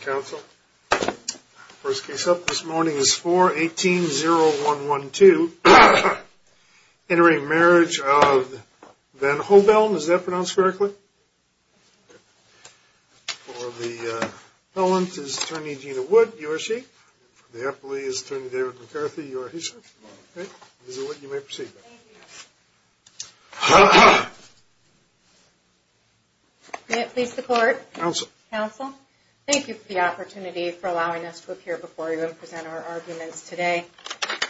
Council first case up this morning is 418 0 1 1 2 entering marriage of Van Hoveln is that pronounced correctly? No one's is turning Gina would you are she the happily is turning David McCarthy you are he's What you may proceed? Please support council council. Thank you for the opportunity for allowing us to appear before you and present our arguments today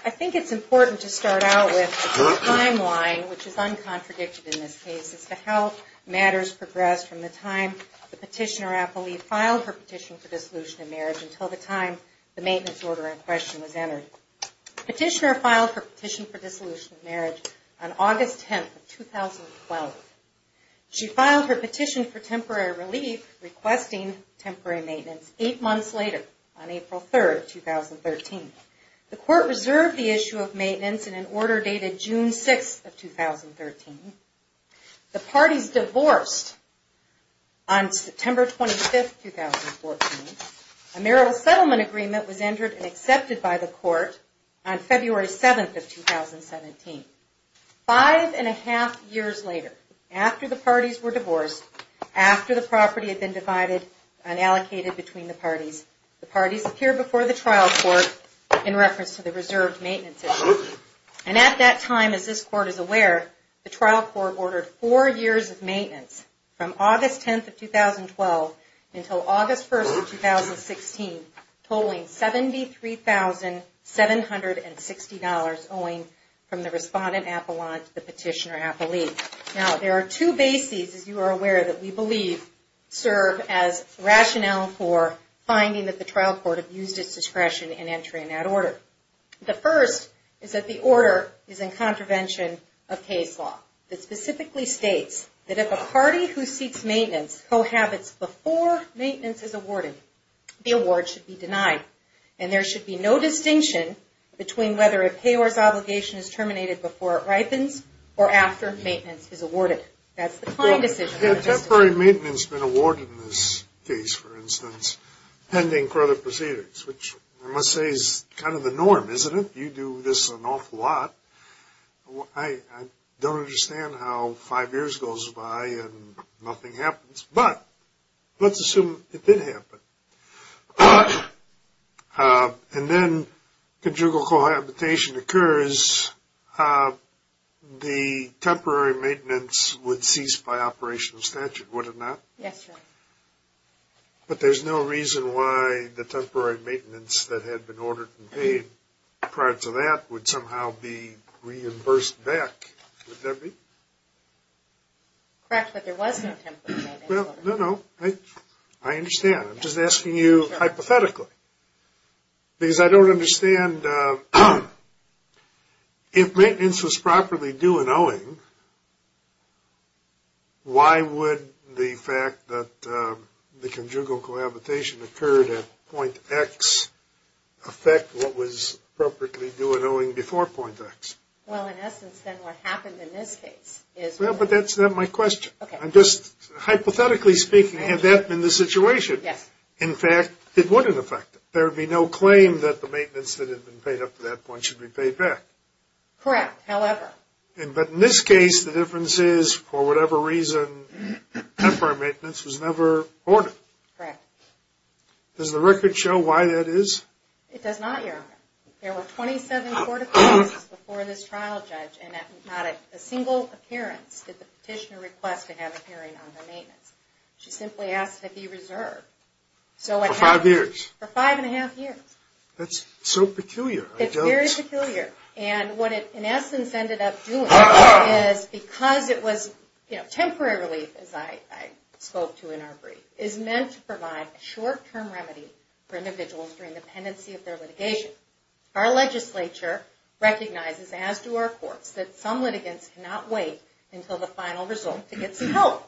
I think it's important to start out with timeline which is Uncontradicted in this case is to help matters progressed from the time the petitioner I believe filed her petition for dissolution in marriage until the time the maintenance order in question was entered Petitioner filed for petition for dissolution of marriage on August 10th of 2012 She filed her petition for temporary relief Requesting temporary maintenance eight months later on April 3rd 2013 the court reserved the issue of maintenance in an order dated June 6 of 2013 the party's divorced on September 25th A marital settlement agreement was entered and accepted by the court on February 7th of 2017 Five and a half years later after the parties were divorced after the property had been divided and Allocated between the parties the parties appear before the trial court in reference to the reserved maintenance And at that time as this court is aware the trial court ordered four years of maintenance from August 10th of 2012 until August 1st of 2016 tolling $73,760 owing from the respondent Appalachian the petitioner happily now There are two bases as you are aware that we believe serve as rationale for Finding that the trial court have used its discretion in entering that order The first is that the order is in contravention of case law that specifically states that if a party who seeks maintenance Cohabits before maintenance is awarded the award should be denied and there should be no distinction Between whether a payors obligation is terminated before it ripens or after maintenance is awarded That's the kind of decision the temporary maintenance been awarded in this case for instance Pending further proceedings, which I must say is kind of the norm isn't it you do this an awful lot I? Don't understand how five years goes by and nothing happens, but let's assume it did happen And then conjugal cohabitation occurs The temporary maintenance would cease by operational statute would it not yes But there's no reason why the temporary maintenance that had been ordered and paid prior to that would somehow be reimbursed back Well no, no I understand. I'm just asking you hypothetically because I don't understand If maintenance was properly doing owing Why would the fact that the conjugal cohabitation occurred at point X Affect what was appropriately doing owing before point X Well, but that's not my question, I'm just Hypothetically speaking have that been the situation yes in fact it wouldn't affect there would be no claim that the maintenance that had been paid Up to that point should be paid back Correct however, and but in this case the difference is for whatever reason Temporary maintenance was never ordered Correct Does the record show why that is it does not? There were 27 court of cases before this trial judge and not a single appearance did the petitioner request to have a hearing on? The maintenance she simply asked to be reserved So what five years for five and a half years? That's so peculiar It's very peculiar and what it in essence ended up doing is because it was you know temporary relief as I? Spoke to in our brief is meant to provide a short-term remedy for individuals during the pendency of their litigation our legislature Recognizes as to our courts that some litigants cannot wait until the final result to get some help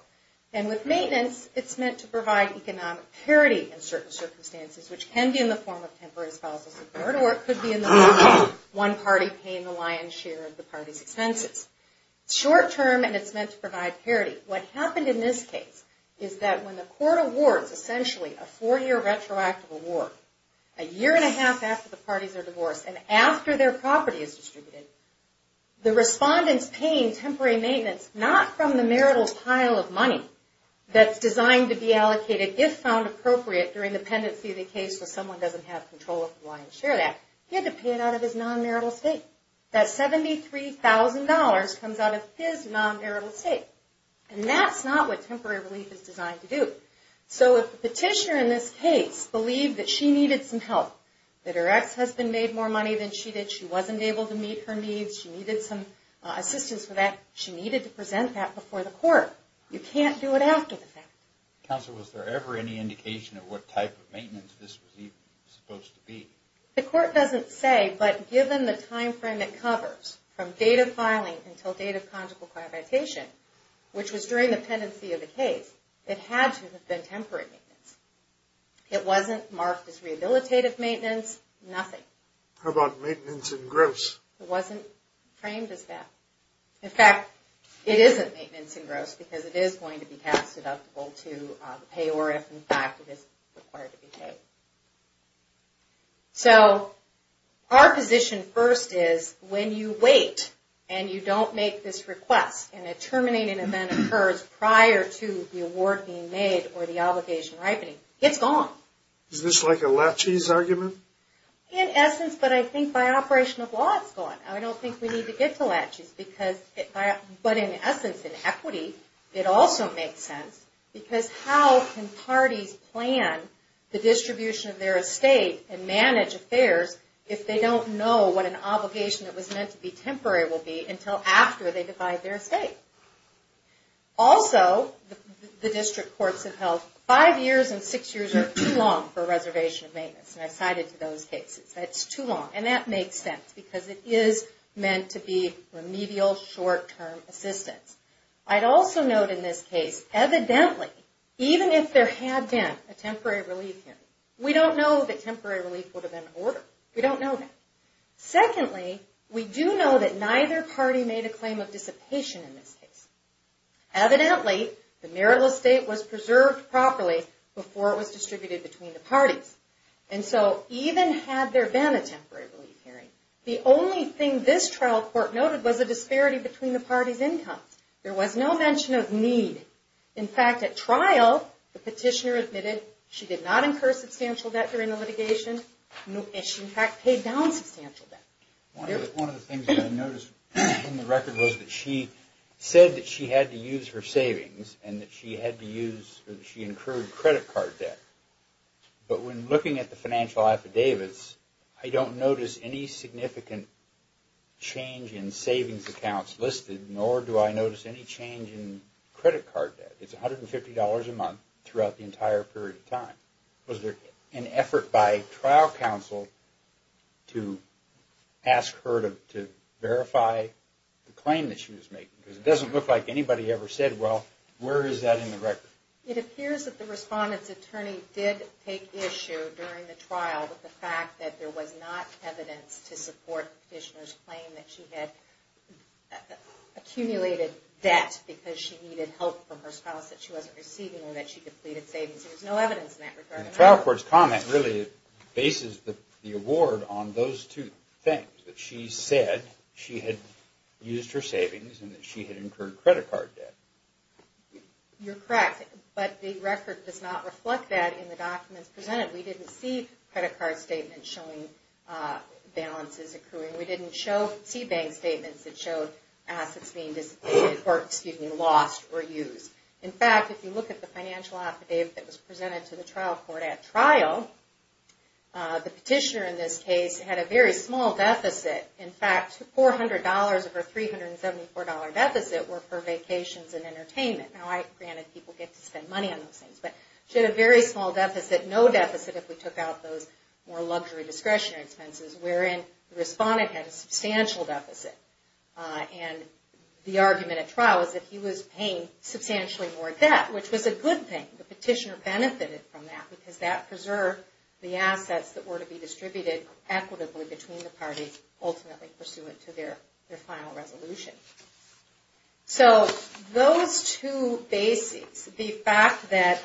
and with maintenance It's meant to provide economic parity in certain circumstances Which can be in the form of temporary spousal support, or it could be in the one party paying the lion's share of the party's expenses Short-term and it's meant to provide parity what happened in this case is that when the court awards essentially a four-year retroactive Award a year and a half after the parties are divorced and after their property is distributed The respondents paying temporary maintenance not from the marital pile of money That's designed to be allocated if found appropriate during the pendency of the case where someone doesn't have control of the lion's share that He had to pay it out of his non marital state that $73,000 comes out of his non marital state, and that's not what temporary relief is designed to do So if the petitioner in this case Believed that she needed some help that her ex-husband made more money than she did she wasn't able to meet her needs she needed some Assistance for that she needed to present that before the court you can't do it after the fact Counsel was there ever any indication of what type of maintenance this was even supposed to be the court doesn't say But given the time frame that covers from data filing until date of conjugal Qualification which was during the pendency of the case it had to have been temporary It wasn't marked as rehabilitative maintenance nothing about maintenance and gross It wasn't framed as that in fact It isn't maintenance and gross because it is going to be passed deductible to pay or if in fact it is required to be paid So Our position first is when you wait And you don't make this request and a terminating event occurs prior to the award being made or the obligation Ripening it's gone. Is this like a latches argument in essence, but I think by operation of law It's gone. I don't think we need to get to latches because it but in essence in equity It also makes sense because how can parties plan the distribution of their estate and manage affairs? If they don't know what an obligation that was meant to be temporary will be until after they divide their state also The district courts have held five years and six years are too long for a reservation of maintenance, and I've cited to those cases It's too long and that makes sense because it is meant to be remedial short-term assistance I'd also note in this case evidently even if there had been a temporary relief We don't know that temporary relief would have been ordered we don't know that Secondly we do know that neither party made a claim of dissipation in this case Evidently the marital estate was preserved properly before it was distributed between the parties And so even had there been a temporary relief hearing the only thing this trial court noted was a disparity between the parties Income there was no mention of need in fact at trial the petitioner admitted She did not incur substantial debt during the litigation No, and she in fact paid down substantial debt She said that she had to use her savings and that she had to use she incurred credit card debt But when looking at the financial affidavits, I don't notice any significant Change in savings accounts listed nor do I notice any change in credit card debt? $150 a month throughout the entire period of time was there an effort by trial counsel? to Ask her to verify The claim that she was making because it doesn't look like anybody ever said well Where is that in the record it appears that the respondents attorney did take issue during the trial with the fact that there was not? evidence to support Petitioners claim that she had Accumulated debt because she needed help from her spouse that she wasn't receiving or that she depleted savings There's no evidence in that regard trial courts comment really Bases the award on those two things that she said she had used her savings and that she had incurred credit card debt You're correct, but the record does not reflect that in the documents presented. We didn't see credit card statement showing Balances accruing we didn't show C bank statements that showed assets being Or excuse me lost or used in fact if you look at the financial affidavit that was presented to the trial court at trial The petitioner in this case had a very small deficit in fact $400 of her $374 deficit were for vacations and entertainment now I granted people get to spend money on those things She had a very small deficit no deficit if we took out those more luxury discretionary expenses wherein the respondent had a substantial deficit And the argument at trial is that he was paying Substantially more debt which was a good thing the petitioner benefited from that because that preserved the assets that were to be distributed Equitably between the parties ultimately pursuant to their their final resolution so those two Basics the fact that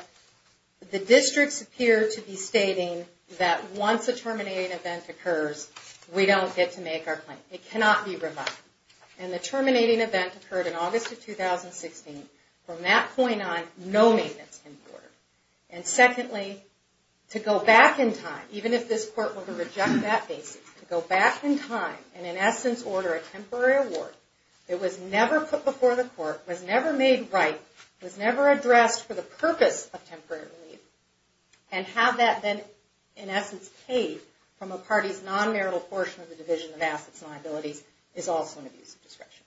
The districts appear to be stating that once a terminating event occurs We don't get to make our claim it cannot be revived and the terminating event occurred in August of 2016 from that point on no maintenance in order and secondly To go back in time even if this court were to reject that basis to go back in time and in essence order a temporary Award it was never put before the court was never made, right? It was never addressed for the purpose of temporary relief and Have that then in essence paid from a party's non-marital portion of the division of assets liabilities is also an abuse of discretion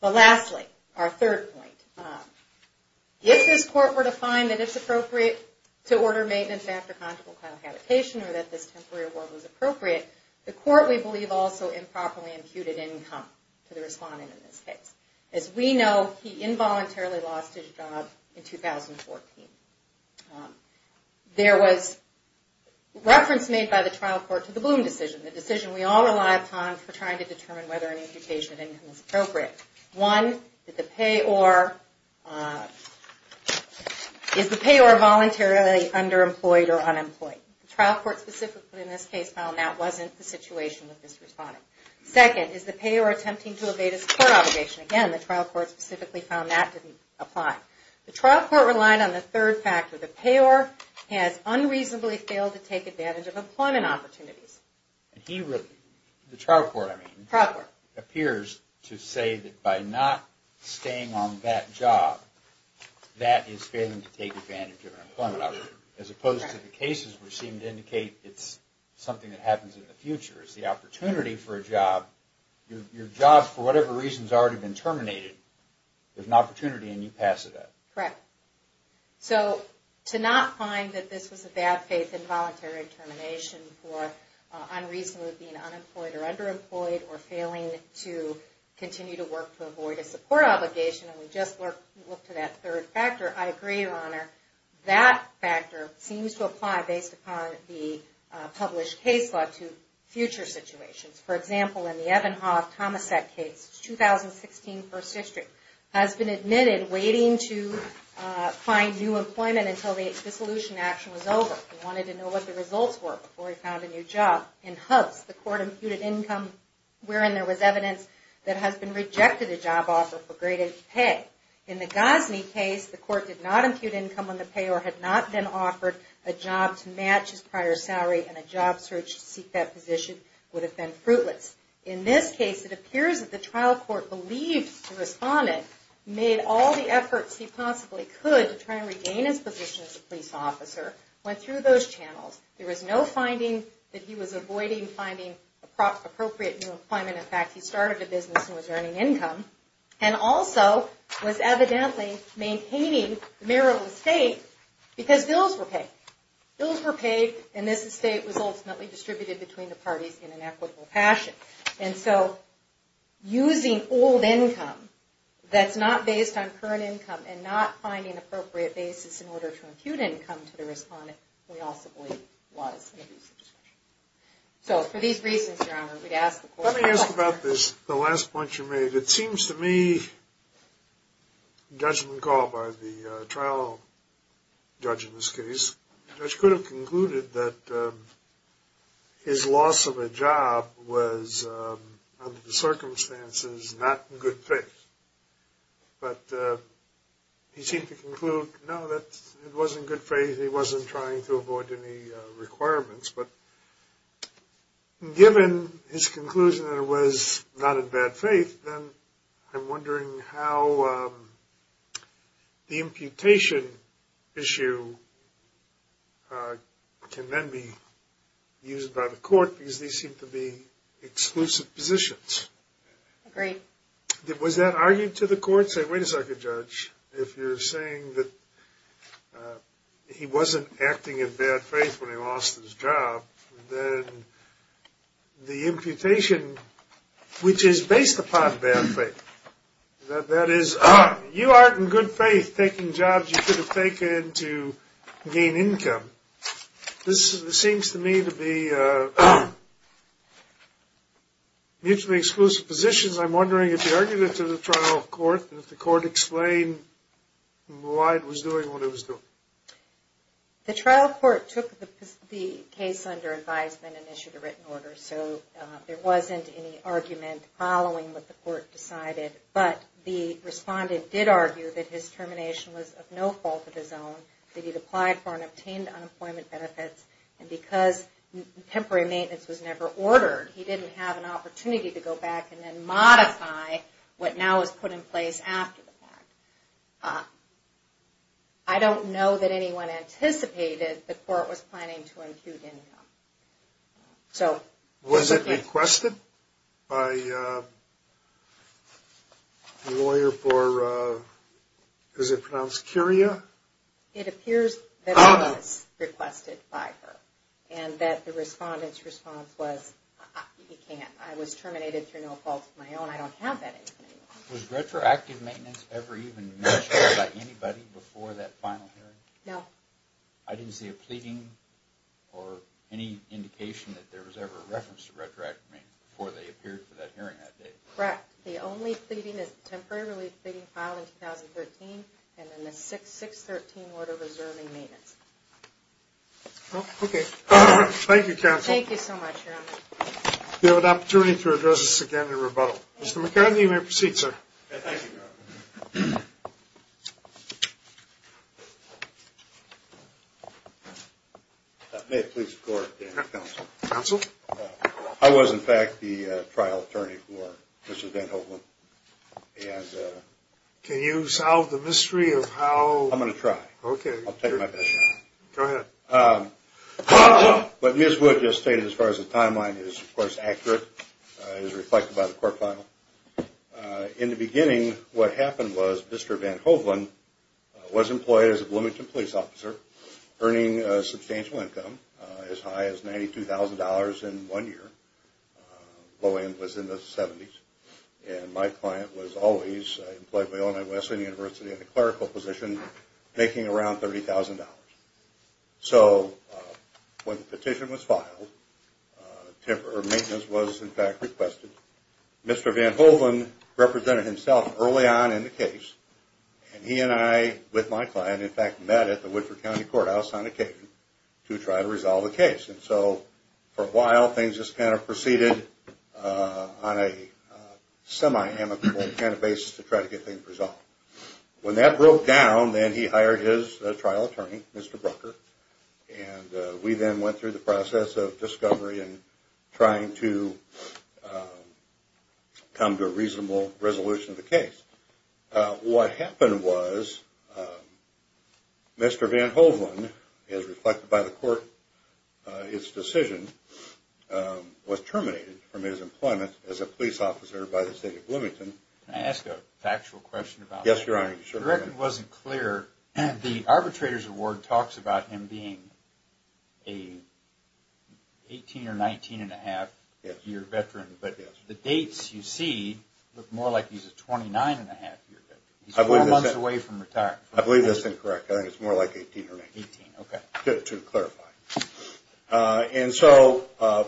but lastly our third point If this court were to find that it's appropriate to order maintenance after conjugal Convocation or that this temporary award was appropriate the court we believe also Improperly imputed income to the respondent in this case as we know he involuntarily lost his job in 2014 There was Reference made by the trial court to the bloom decision the decision we all rely upon for trying to determine whether an imputation of income is appropriate one that the payor Is the payor Voluntarily underemployed or unemployed trial court specifically in this case found that wasn't the situation with this responding Second is the payor attempting to evade his obligation again the trial court specifically found that didn't apply The trial court relied on the third factor the payor has unreasonably failed to take advantage of employment opportunities He really the trial court. I mean proper appears to say that by not staying on that job That is failing to take advantage of employment as opposed to the cases. We seem to indicate It's something that happens in the future is the opportunity for a job Your job for whatever reasons already been terminated. There's an opportunity and you pass it up, right? so to not find that this was a bad faith involuntary termination for unreasonably being unemployed or underemployed or failing to Continue to work to avoid a support obligation and we just work look to that third factor I agree your honor that factor seems to apply based upon the Published case law to future situations for example in the Evan Hoff Thomasette case 2016 first district has been admitted waiting to Find new employment until the dissolution action was over We wanted to know what the results were before we found a new job in hubs the court imputed income Wherein there was evidence that has been rejected a job offer for graded pay in the Gosney case the court did not impute income on the payor had not been offered a Job to match his prior salary and a job search to seek that position would have been fruitless in this case It appears that the trial court believed to respond it made all the efforts He possibly could to try and regain his position as a police officer went through those channels There was no finding that he was avoiding finding Appropriate new employment in fact he started a business and was earning income and also was evidently maintaining the mayoral estate Because bills were paid bills were paid and this estate was ultimately distributed between the parties in an equitable fashion and so using old income That's not based on current income and not finding appropriate basis in order to impute income to the respondent Was So for these reasons we'd ask let me ask about this the last point you made it seems to me Judgment called by the trial judge in this case which could have concluded that His loss of a job was under the circumstances not good fit but He seemed to conclude no that it wasn't good faith he wasn't trying to avoid any requirements, but Given his conclusion that it was not in bad faith, then I'm wondering how The imputation issue Can then be used by the court because these seem to be exclusive positions Great it was that argued to the court say wait a second judge if you're saying that He wasn't acting in bad faith when he lost his job then the imputation Which is based upon bad faith That is ah you aren't in good faith taking jobs. You could have taken to gain income This seems to me to be A Mutually exclusive positions, I'm wondering if the argument to the trial of court and if the court explained Why it was doing what it was doing? the trial court took the Case under advisement and issued a written order so there wasn't any argument Following what the court decided but the respondent did argue that his termination was of no fault of his own that he'd applied for and obtained unemployment benefits and because Temporary maintenance was never ordered. He didn't have an opportunity to go back and then modify What now is put in place after the fact I? Don't know that anyone anticipated the court was planning to impute income So was it requested by? Lawyer for Does it pronounce curia it appears? Was requested by her and that the respondent's response was He can't I was terminated through no fault of my own. I don't have that Retroactive maintenance ever even Anybody before that final hearing no I didn't see a pleading or Any indication that there was ever a reference to retroact me before they appeared for that hearing that day, right? The only pleading is temporarily pleading filed in 2013 and then the 6 6 13 order reserving maintenance Okay, thank you. Thank you so much. You have an opportunity to address us again in rebuttal mr.. McCartney may proceed, sir I Was in fact the trial attorney for mr.. Van Hovland Can you solve the mystery of how I'm gonna try okay? But miss would just stated as far as the timeline is of course accurate is reflected by the court file In the beginning what happened was mr. Van Hovland was employed as a Bloomington police officer earning a substantial income as high as $92,000 in one year Low end was in the 70s and my client was always employed by all night Western University in a clerical position making around $30,000 so When the petition was filed? Temporary maintenance was in fact requested mr. Van Hovland represented himself early on in the case And he and I with my client in fact met at the Woodford County Courthouse on occasion to try to resolve the case and so for a while things just kind of proceeded on a Semi amicable kind of basis to try to get things resolved when that broke down then he hired his trial attorney mr. And we then went through the process of discovery and trying to Come to a reasonable resolution of the case what happened was Mr.. Van Hovland is reflected by the court its decision Was terminated from his employment as a police officer by the state of Bloomington. I asked a factual question about yes It wasn't clear and the arbitrators award talks about him being a 18 or 19 and a half year veteran, but the dates you see look more like he's a 29 and a half I believe that away from retirement. I believe that's incorrect. I think it's more like 18 or 18. Okay good to clarify And so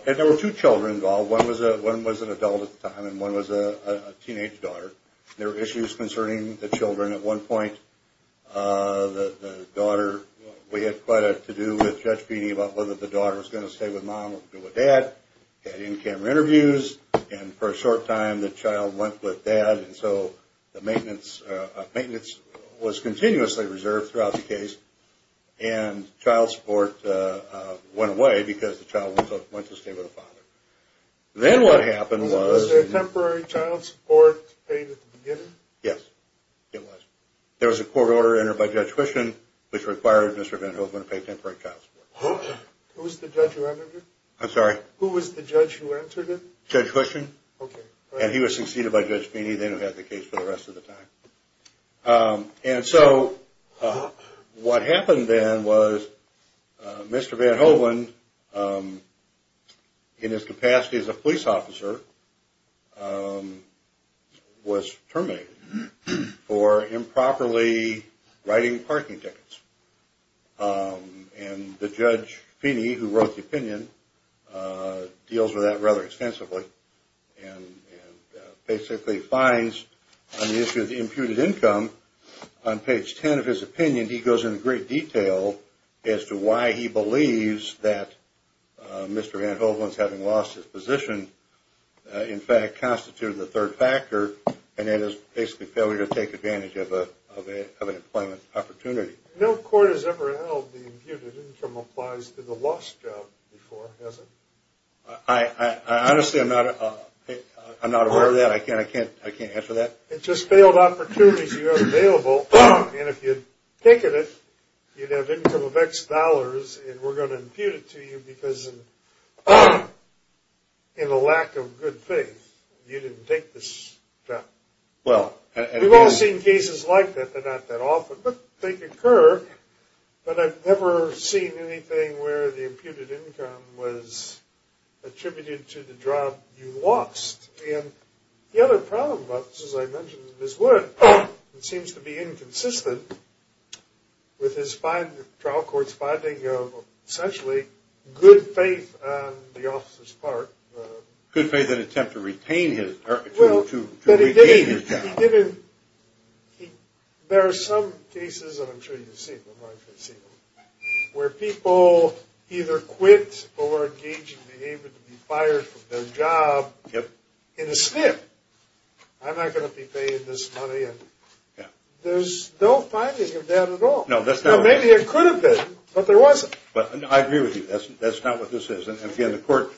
if there were two children involved one was a one was an adult at the time and one was a Children at one point The daughter we had quite a to do with judge feeding about whether the daughter was going to stay with mom We're with dad and in camera interviews and for a short time the child went with dad and so the maintenance maintenance was continuously reserved throughout the case and child support Went away because the child went to stay with a father Then what happened was a temporary child support Yes, it was there was a court order entered by judge Christian which required mr. Van Houtman to pay temporary counselor I'm sorry, who was the judge who answered it judge Christian? Okay, and he was succeeded by judge Feeney then who had the case for the rest of the time and so What happened then was? Mr. Van Houtman In his capacity as a police officer Was Terminated for improperly writing parking tickets And the judge Feeney who wrote the opinion deals with that rather extensively and Basically finds on the issue of the imputed income on page 10 of his opinion He goes in great detail as to why he believes that Mr. Van Houtman's having lost his position In fact constituted the third factor and it is basically failure to take advantage of a employment opportunity no court has ever held the Income applies to the lost job before hasn't I? Honestly, I'm not I'm not aware of that. I can't I can't I can't answer that. It's just failed opportunities You have available, and if you'd taken it you'd have income of X dollars, and we're going to impute it to you because In the lack of good faith you didn't take this Well, we've all seen cases like that. They're not that often, but they concur but I've never seen anything where the imputed income was Attributed to the job you lost and the other problem, but as I mentioned this would it seems to be inconsistent With his five trial court's finding of essentially good faith the officers part Good faith that attempt to retain his well to There are some cases Where people either quit or engage in behavior to be fired from their job yep in a snip I'm not gonna be paying this money, and yeah Don't find that at all. No, that's not maybe it could have been but there wasn't but I agree with you That's that's not what this is and again the court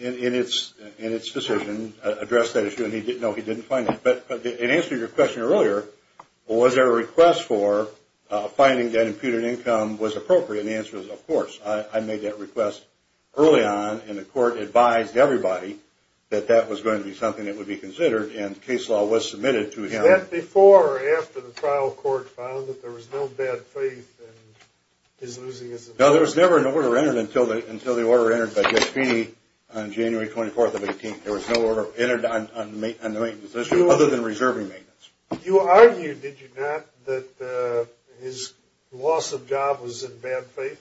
In its in its decision address that issue, and he didn't know he didn't find it, but it answered your question earlier Was there a request for? Finding that imputed income was appropriate answers of course I made that request Early on in the court advised everybody that that was going to be something that would be considered and case law was submitted to him before or after the trial court found that there was no bad faith and No, there was never an order entered until the until the order entered, but just be on January 24th of 18th There was no order entered on the maintenance issue other than reserving maintenance you argued Did you not that his loss of job was in bad faith?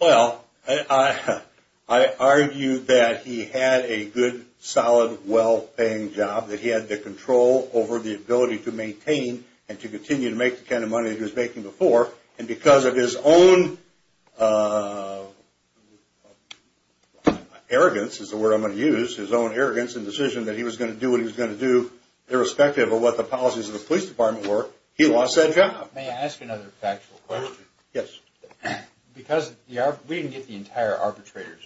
Well I Argued that he had a good solid well-paying job that he had the control over the ability to maintain And to continue to make the kind of money. He was making before and because of his own Arrogance is the word I'm going to use his own arrogance and decision that he was going to do what he was going to do Irrespective of what the policies of the police department were he lost that job may I ask another factual question yes? Because yeah, we didn't get the entire arbitrators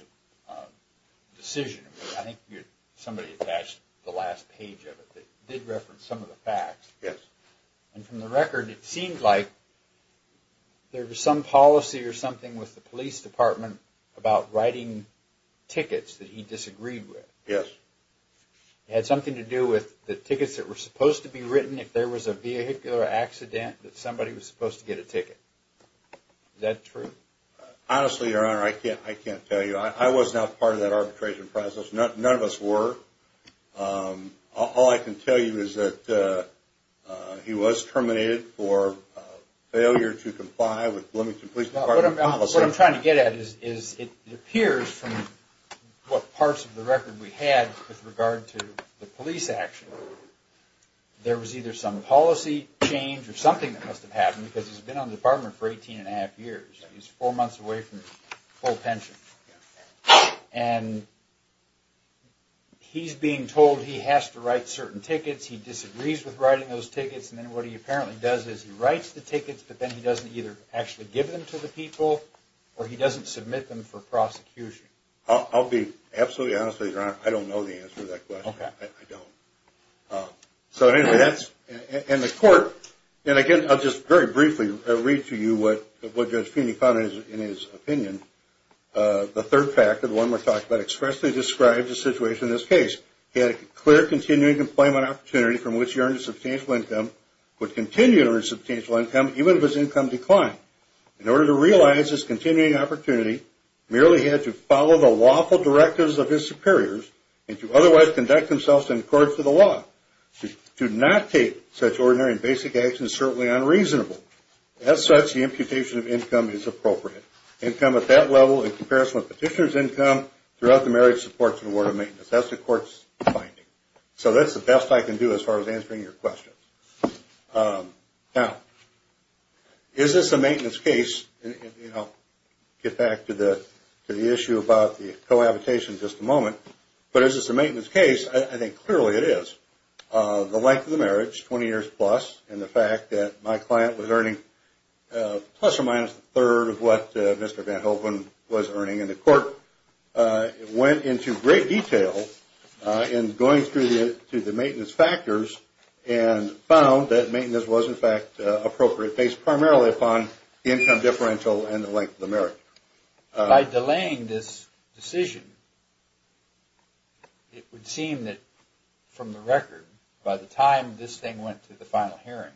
Decision I think you're somebody attached the last page of it. They'd reference some of the facts. Yes, and from the record it seemed like There was some policy or something with the police department about writing Tickets that he disagreed with yes It had something to do with the tickets that were supposed to be written if there was a vehicular Accident that somebody was supposed to get a ticket That's true honestly your honor. I can't I can't tell you I was not part of that arbitration process not none of us were All I can tell you is that he was terminated for failure to comply with What I'm trying to get at is is it appears from? What parts of the record we had with regard to the police action? There was either some policy change or something that must have happened because he's been on the department for 18 and a half years he's four months away from full pension and He's being told he has to write certain tickets He disagrees with writing those tickets, and then what he apparently does is he writes the tickets? But then he doesn't either actually give them to the people or he doesn't submit them for prosecution I'll be absolutely honest with you. I don't know the answer that question. I don't So that's and the court and again. I'll just very briefly read to you. What what judge feeney Connors in his opinion? The third factor the one we're talking about expressly describes the situation in this case He had a clear continuing employment opportunity from which he earned a substantial income Would continue to earn substantial income even if his income declined in order to realize this continuing opportunity Merely had to follow the lawful directives of his superiors and to otherwise conduct themselves in court for the law Do not take such ordinary and basic actions certainly unreasonable as such the imputation of income is appropriate Income at that level in comparison with petitioners income throughout the marriage supports an award of maintenance. That's the court's So that's the best I can do as far as answering your question now Is this a maintenance case? You know get back to the to the issue about the cohabitation just a moment, but is this a maintenance case? I think clearly it is The length of the marriage 20 years plus and the fact that my client was earning Plus or minus the third of what mr.. Van Hoeven was earning in the court it went into great detail in going through the to the maintenance factors and Found that maintenance was in fact appropriate based primarily upon the income differential and the length of the merit by delaying this decision It would seem that from the record by the time this thing went to the final hearing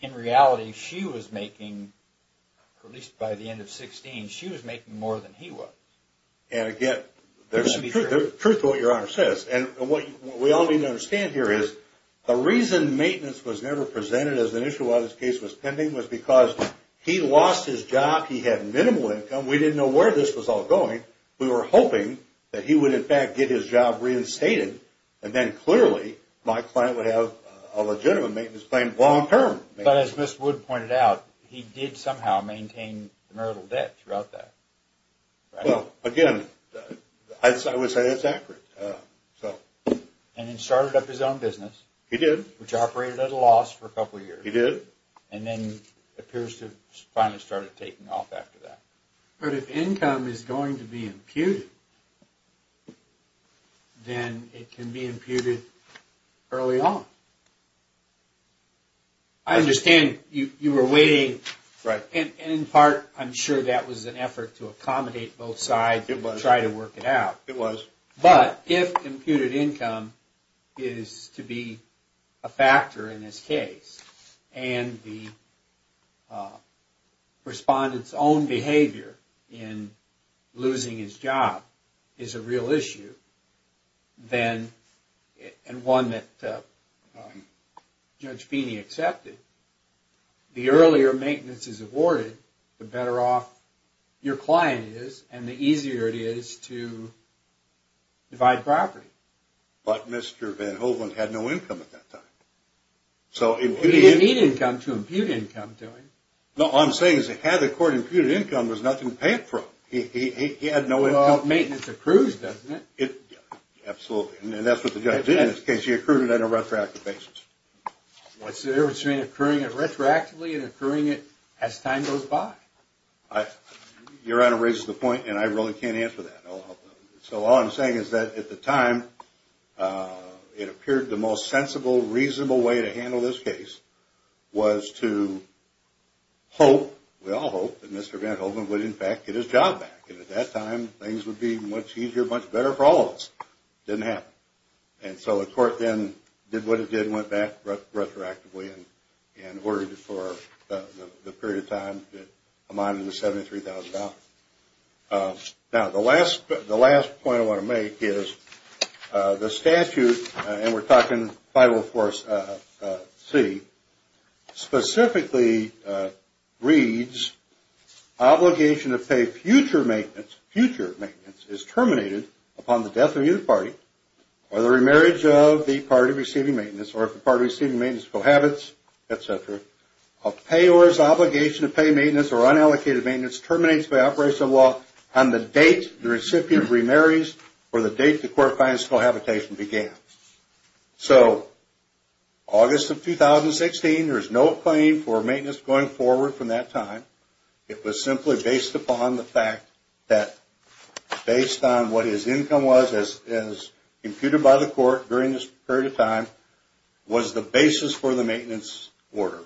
In reality she was making At least by the end of 16. She was making more than he was and I get Truth what your honor says and what we all need to understand here is the reason maintenance was never Presented as an issue while this case was pending was because he lost his job. He had minimal income We didn't know where this was all going we were hoping that he would in fact get his job reinstated And then clearly my client would have a legitimate maintenance claim long term But as mr.. Wood pointed out he did somehow maintain the marital debt throughout that well again As I would say that's accurate So and then started up his own business He did which operated at a loss for a couple years he did and then appears to finally started taking off after that But if income is going to be imputed Then it can be imputed early on I Understand you you were waiting right and in part I'm sure that was an effort to accommodate both sides it was try to work it out it was but if computed income is to be a factor in this case and the Respondents own behavior in Losing his job is a real issue then and one that Judge Feeney accepted The earlier maintenance is awarded the better off your client is and the easier it is to Divide property, but mr.. Van Holen had no income at that time So he didn't come to impute income doing no I'm saying is it had the court imputed income was nothing paid for he had no maintenance accrues Doesn't it it? Absolutely, and that's what the judge did in this case you accrued on a retroactive basis What's the difference between occurring and retroactively and occurring it as time goes by I? Your honor raises the point, and I really can't answer that so all I'm saying is that at the time It appeared the most sensible reasonable way to handle this case was to Hope we all hope that mr. Van Holen would in fact get his job back and at that time things would be much easier much better for all of us Didn't happen and so the court then did what it did went back retroactively and and ordered it for The period of time that I'm on in the seventy three thousand dollars now the last but the last point I want to make is The statute and we're talking by will force see specifically reads Obligation to pay future maintenance future maintenance is terminated upon the death of either party Or the remarriage of the party receiving maintenance or if the party receiving maintenance cohabits Etc a payors obligation to pay maintenance or unallocated maintenance terminates by operation of law on the date the recipient Remarries or the date the court finds cohabitation began so August of 2016 there is no claim for maintenance going forward from that time. It was simply based upon the fact that based on what his income was as computed by the court during this period of time was the basis for the maintenance order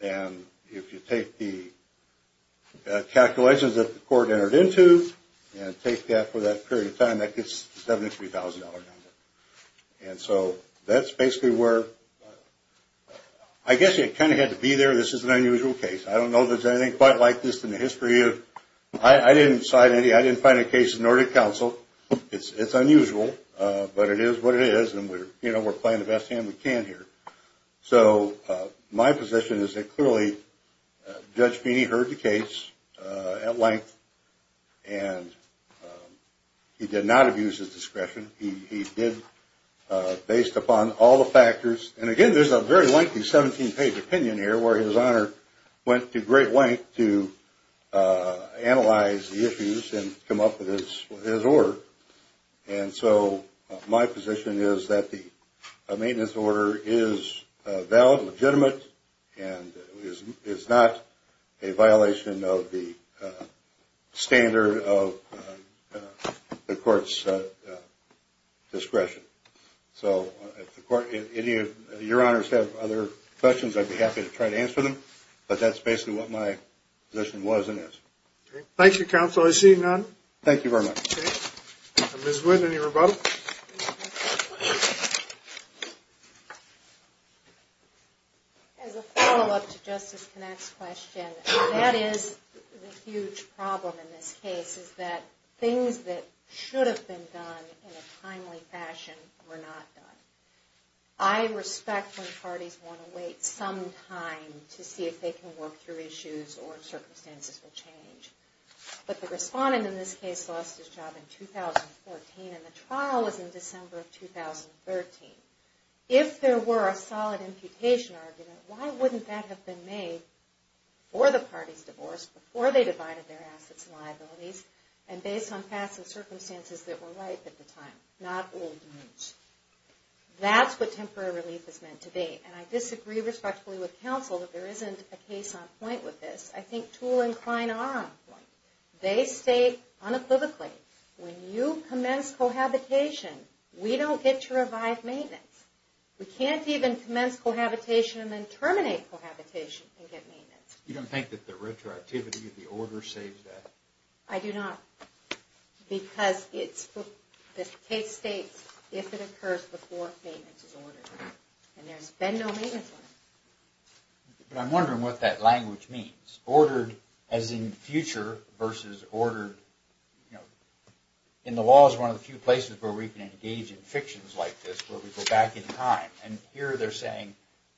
and if you take the Coordinated into and take that for that period of time that gets seventy three thousand dollars and so that's basically where I Guess you kind of had to be there. This is an unusual case I don't know. There's anything quite like this in the history of I Didn't decide any I didn't find a case in order to counsel. It's it's unusual But it is what it is and we're you know, we're playing the best hand we can here. So My position is it clearly? Judge Pini heard the case at length and He did not abuse his discretion he did Based upon all the factors and again, there's a very lengthy 17-page opinion here where his honor went to great length to analyze the issues and come up with his his order and so my position is that the maintenance order is valid legitimate and Is not a violation of the standard of the courts Discretion so Your honors have other questions, I'd be happy to try to answer them, but that's basically what my position wasn't it Thank you counsel. I see none. Thank you very much Justice connects question that is Huge problem in this case is that things that should have been done in a timely fashion were not done. I Respect when parties want to wait some time to see if they can work through issues or circumstances will change But the respondent in this case lost his job in 2014 and the trial was in December of Or the party's divorce before they divided their assets liabilities and based on passive circumstances that were right at the time not That's what temporary relief is meant to be and I disagree respectfully with counsel that there isn't a case on point with this I think tool and Klein are They stay unequivocally When you commence cohabitation, we don't get to revive maintenance We can't even commence cohabitation and then terminate You don't think that the retroactivity of the order saves that I do not Because it's for this case states if it occurs before But I'm wondering what that language means ordered as in future versus ordered You know in the law is one of the few places where we can engage in fictions like this where we go back in time And here they're saying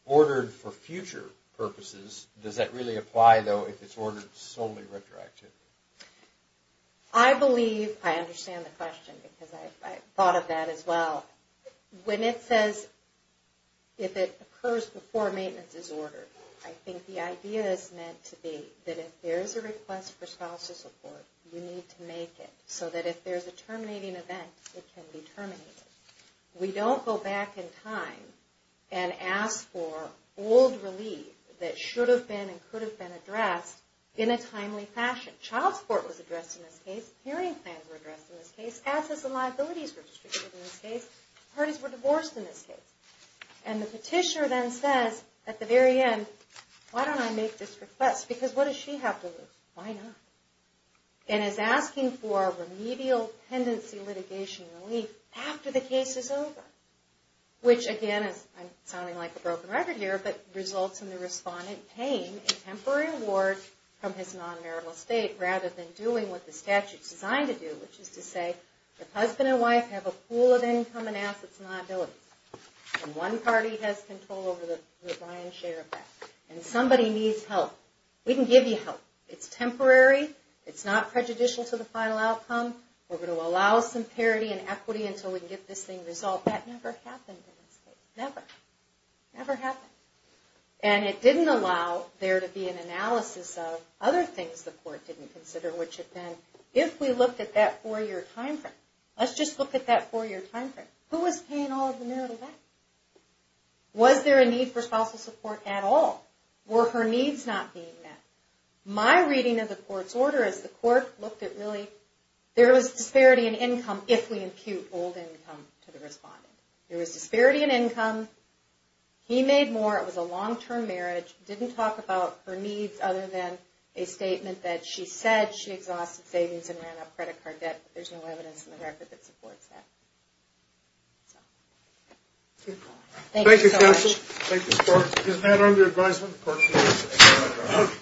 ordered for future purposes. Does that really apply though if it's ordered solely retroactive? I Believe I understand the question because I thought of that as well when it says If it occurs before maintenance is ordered I think the idea is meant to be that if there's a request for scholarship support We need to make it so that if there's a terminating event it can be terminated We don't go back in time and ask for old relief That should have been and could have been addressed in a timely fashion child support was addressed in this case hearing plans were addressed in this case assets and liabilities were And the petitioner then says at the very end Why don't I make this request because what does she have to lose? Why not? And is asking for remedial tendency litigation relief after the case is over Which again is I'm sounding like a broken record here But results in the respondent paying a temporary award from his non-marital estate rather than doing what the statute's designed to do The husband and wife have a pool of income and assets and liabilities One party has control over the Brian share of that and somebody needs help we can give you help. It's temporary It's not prejudicial to the final outcome We're going to allow some parity and equity until we get this thing resolved that never happened never never happened and It didn't allow there to be an analysis of other things the court didn't consider If we looked at that for your time frame, let's just look at that for your time frame who was paying all of the marital Was there a need for spousal support at all were her needs not being met? My reading of the court's order as the court looked at really There was disparity in income if we impute old income to the respondent there was disparity in income He made more it was a long-term marriage didn't talk about her needs other than a statement that she said Exhausted savings and ran out credit card debt. There's no evidence in the record that supports that Thank you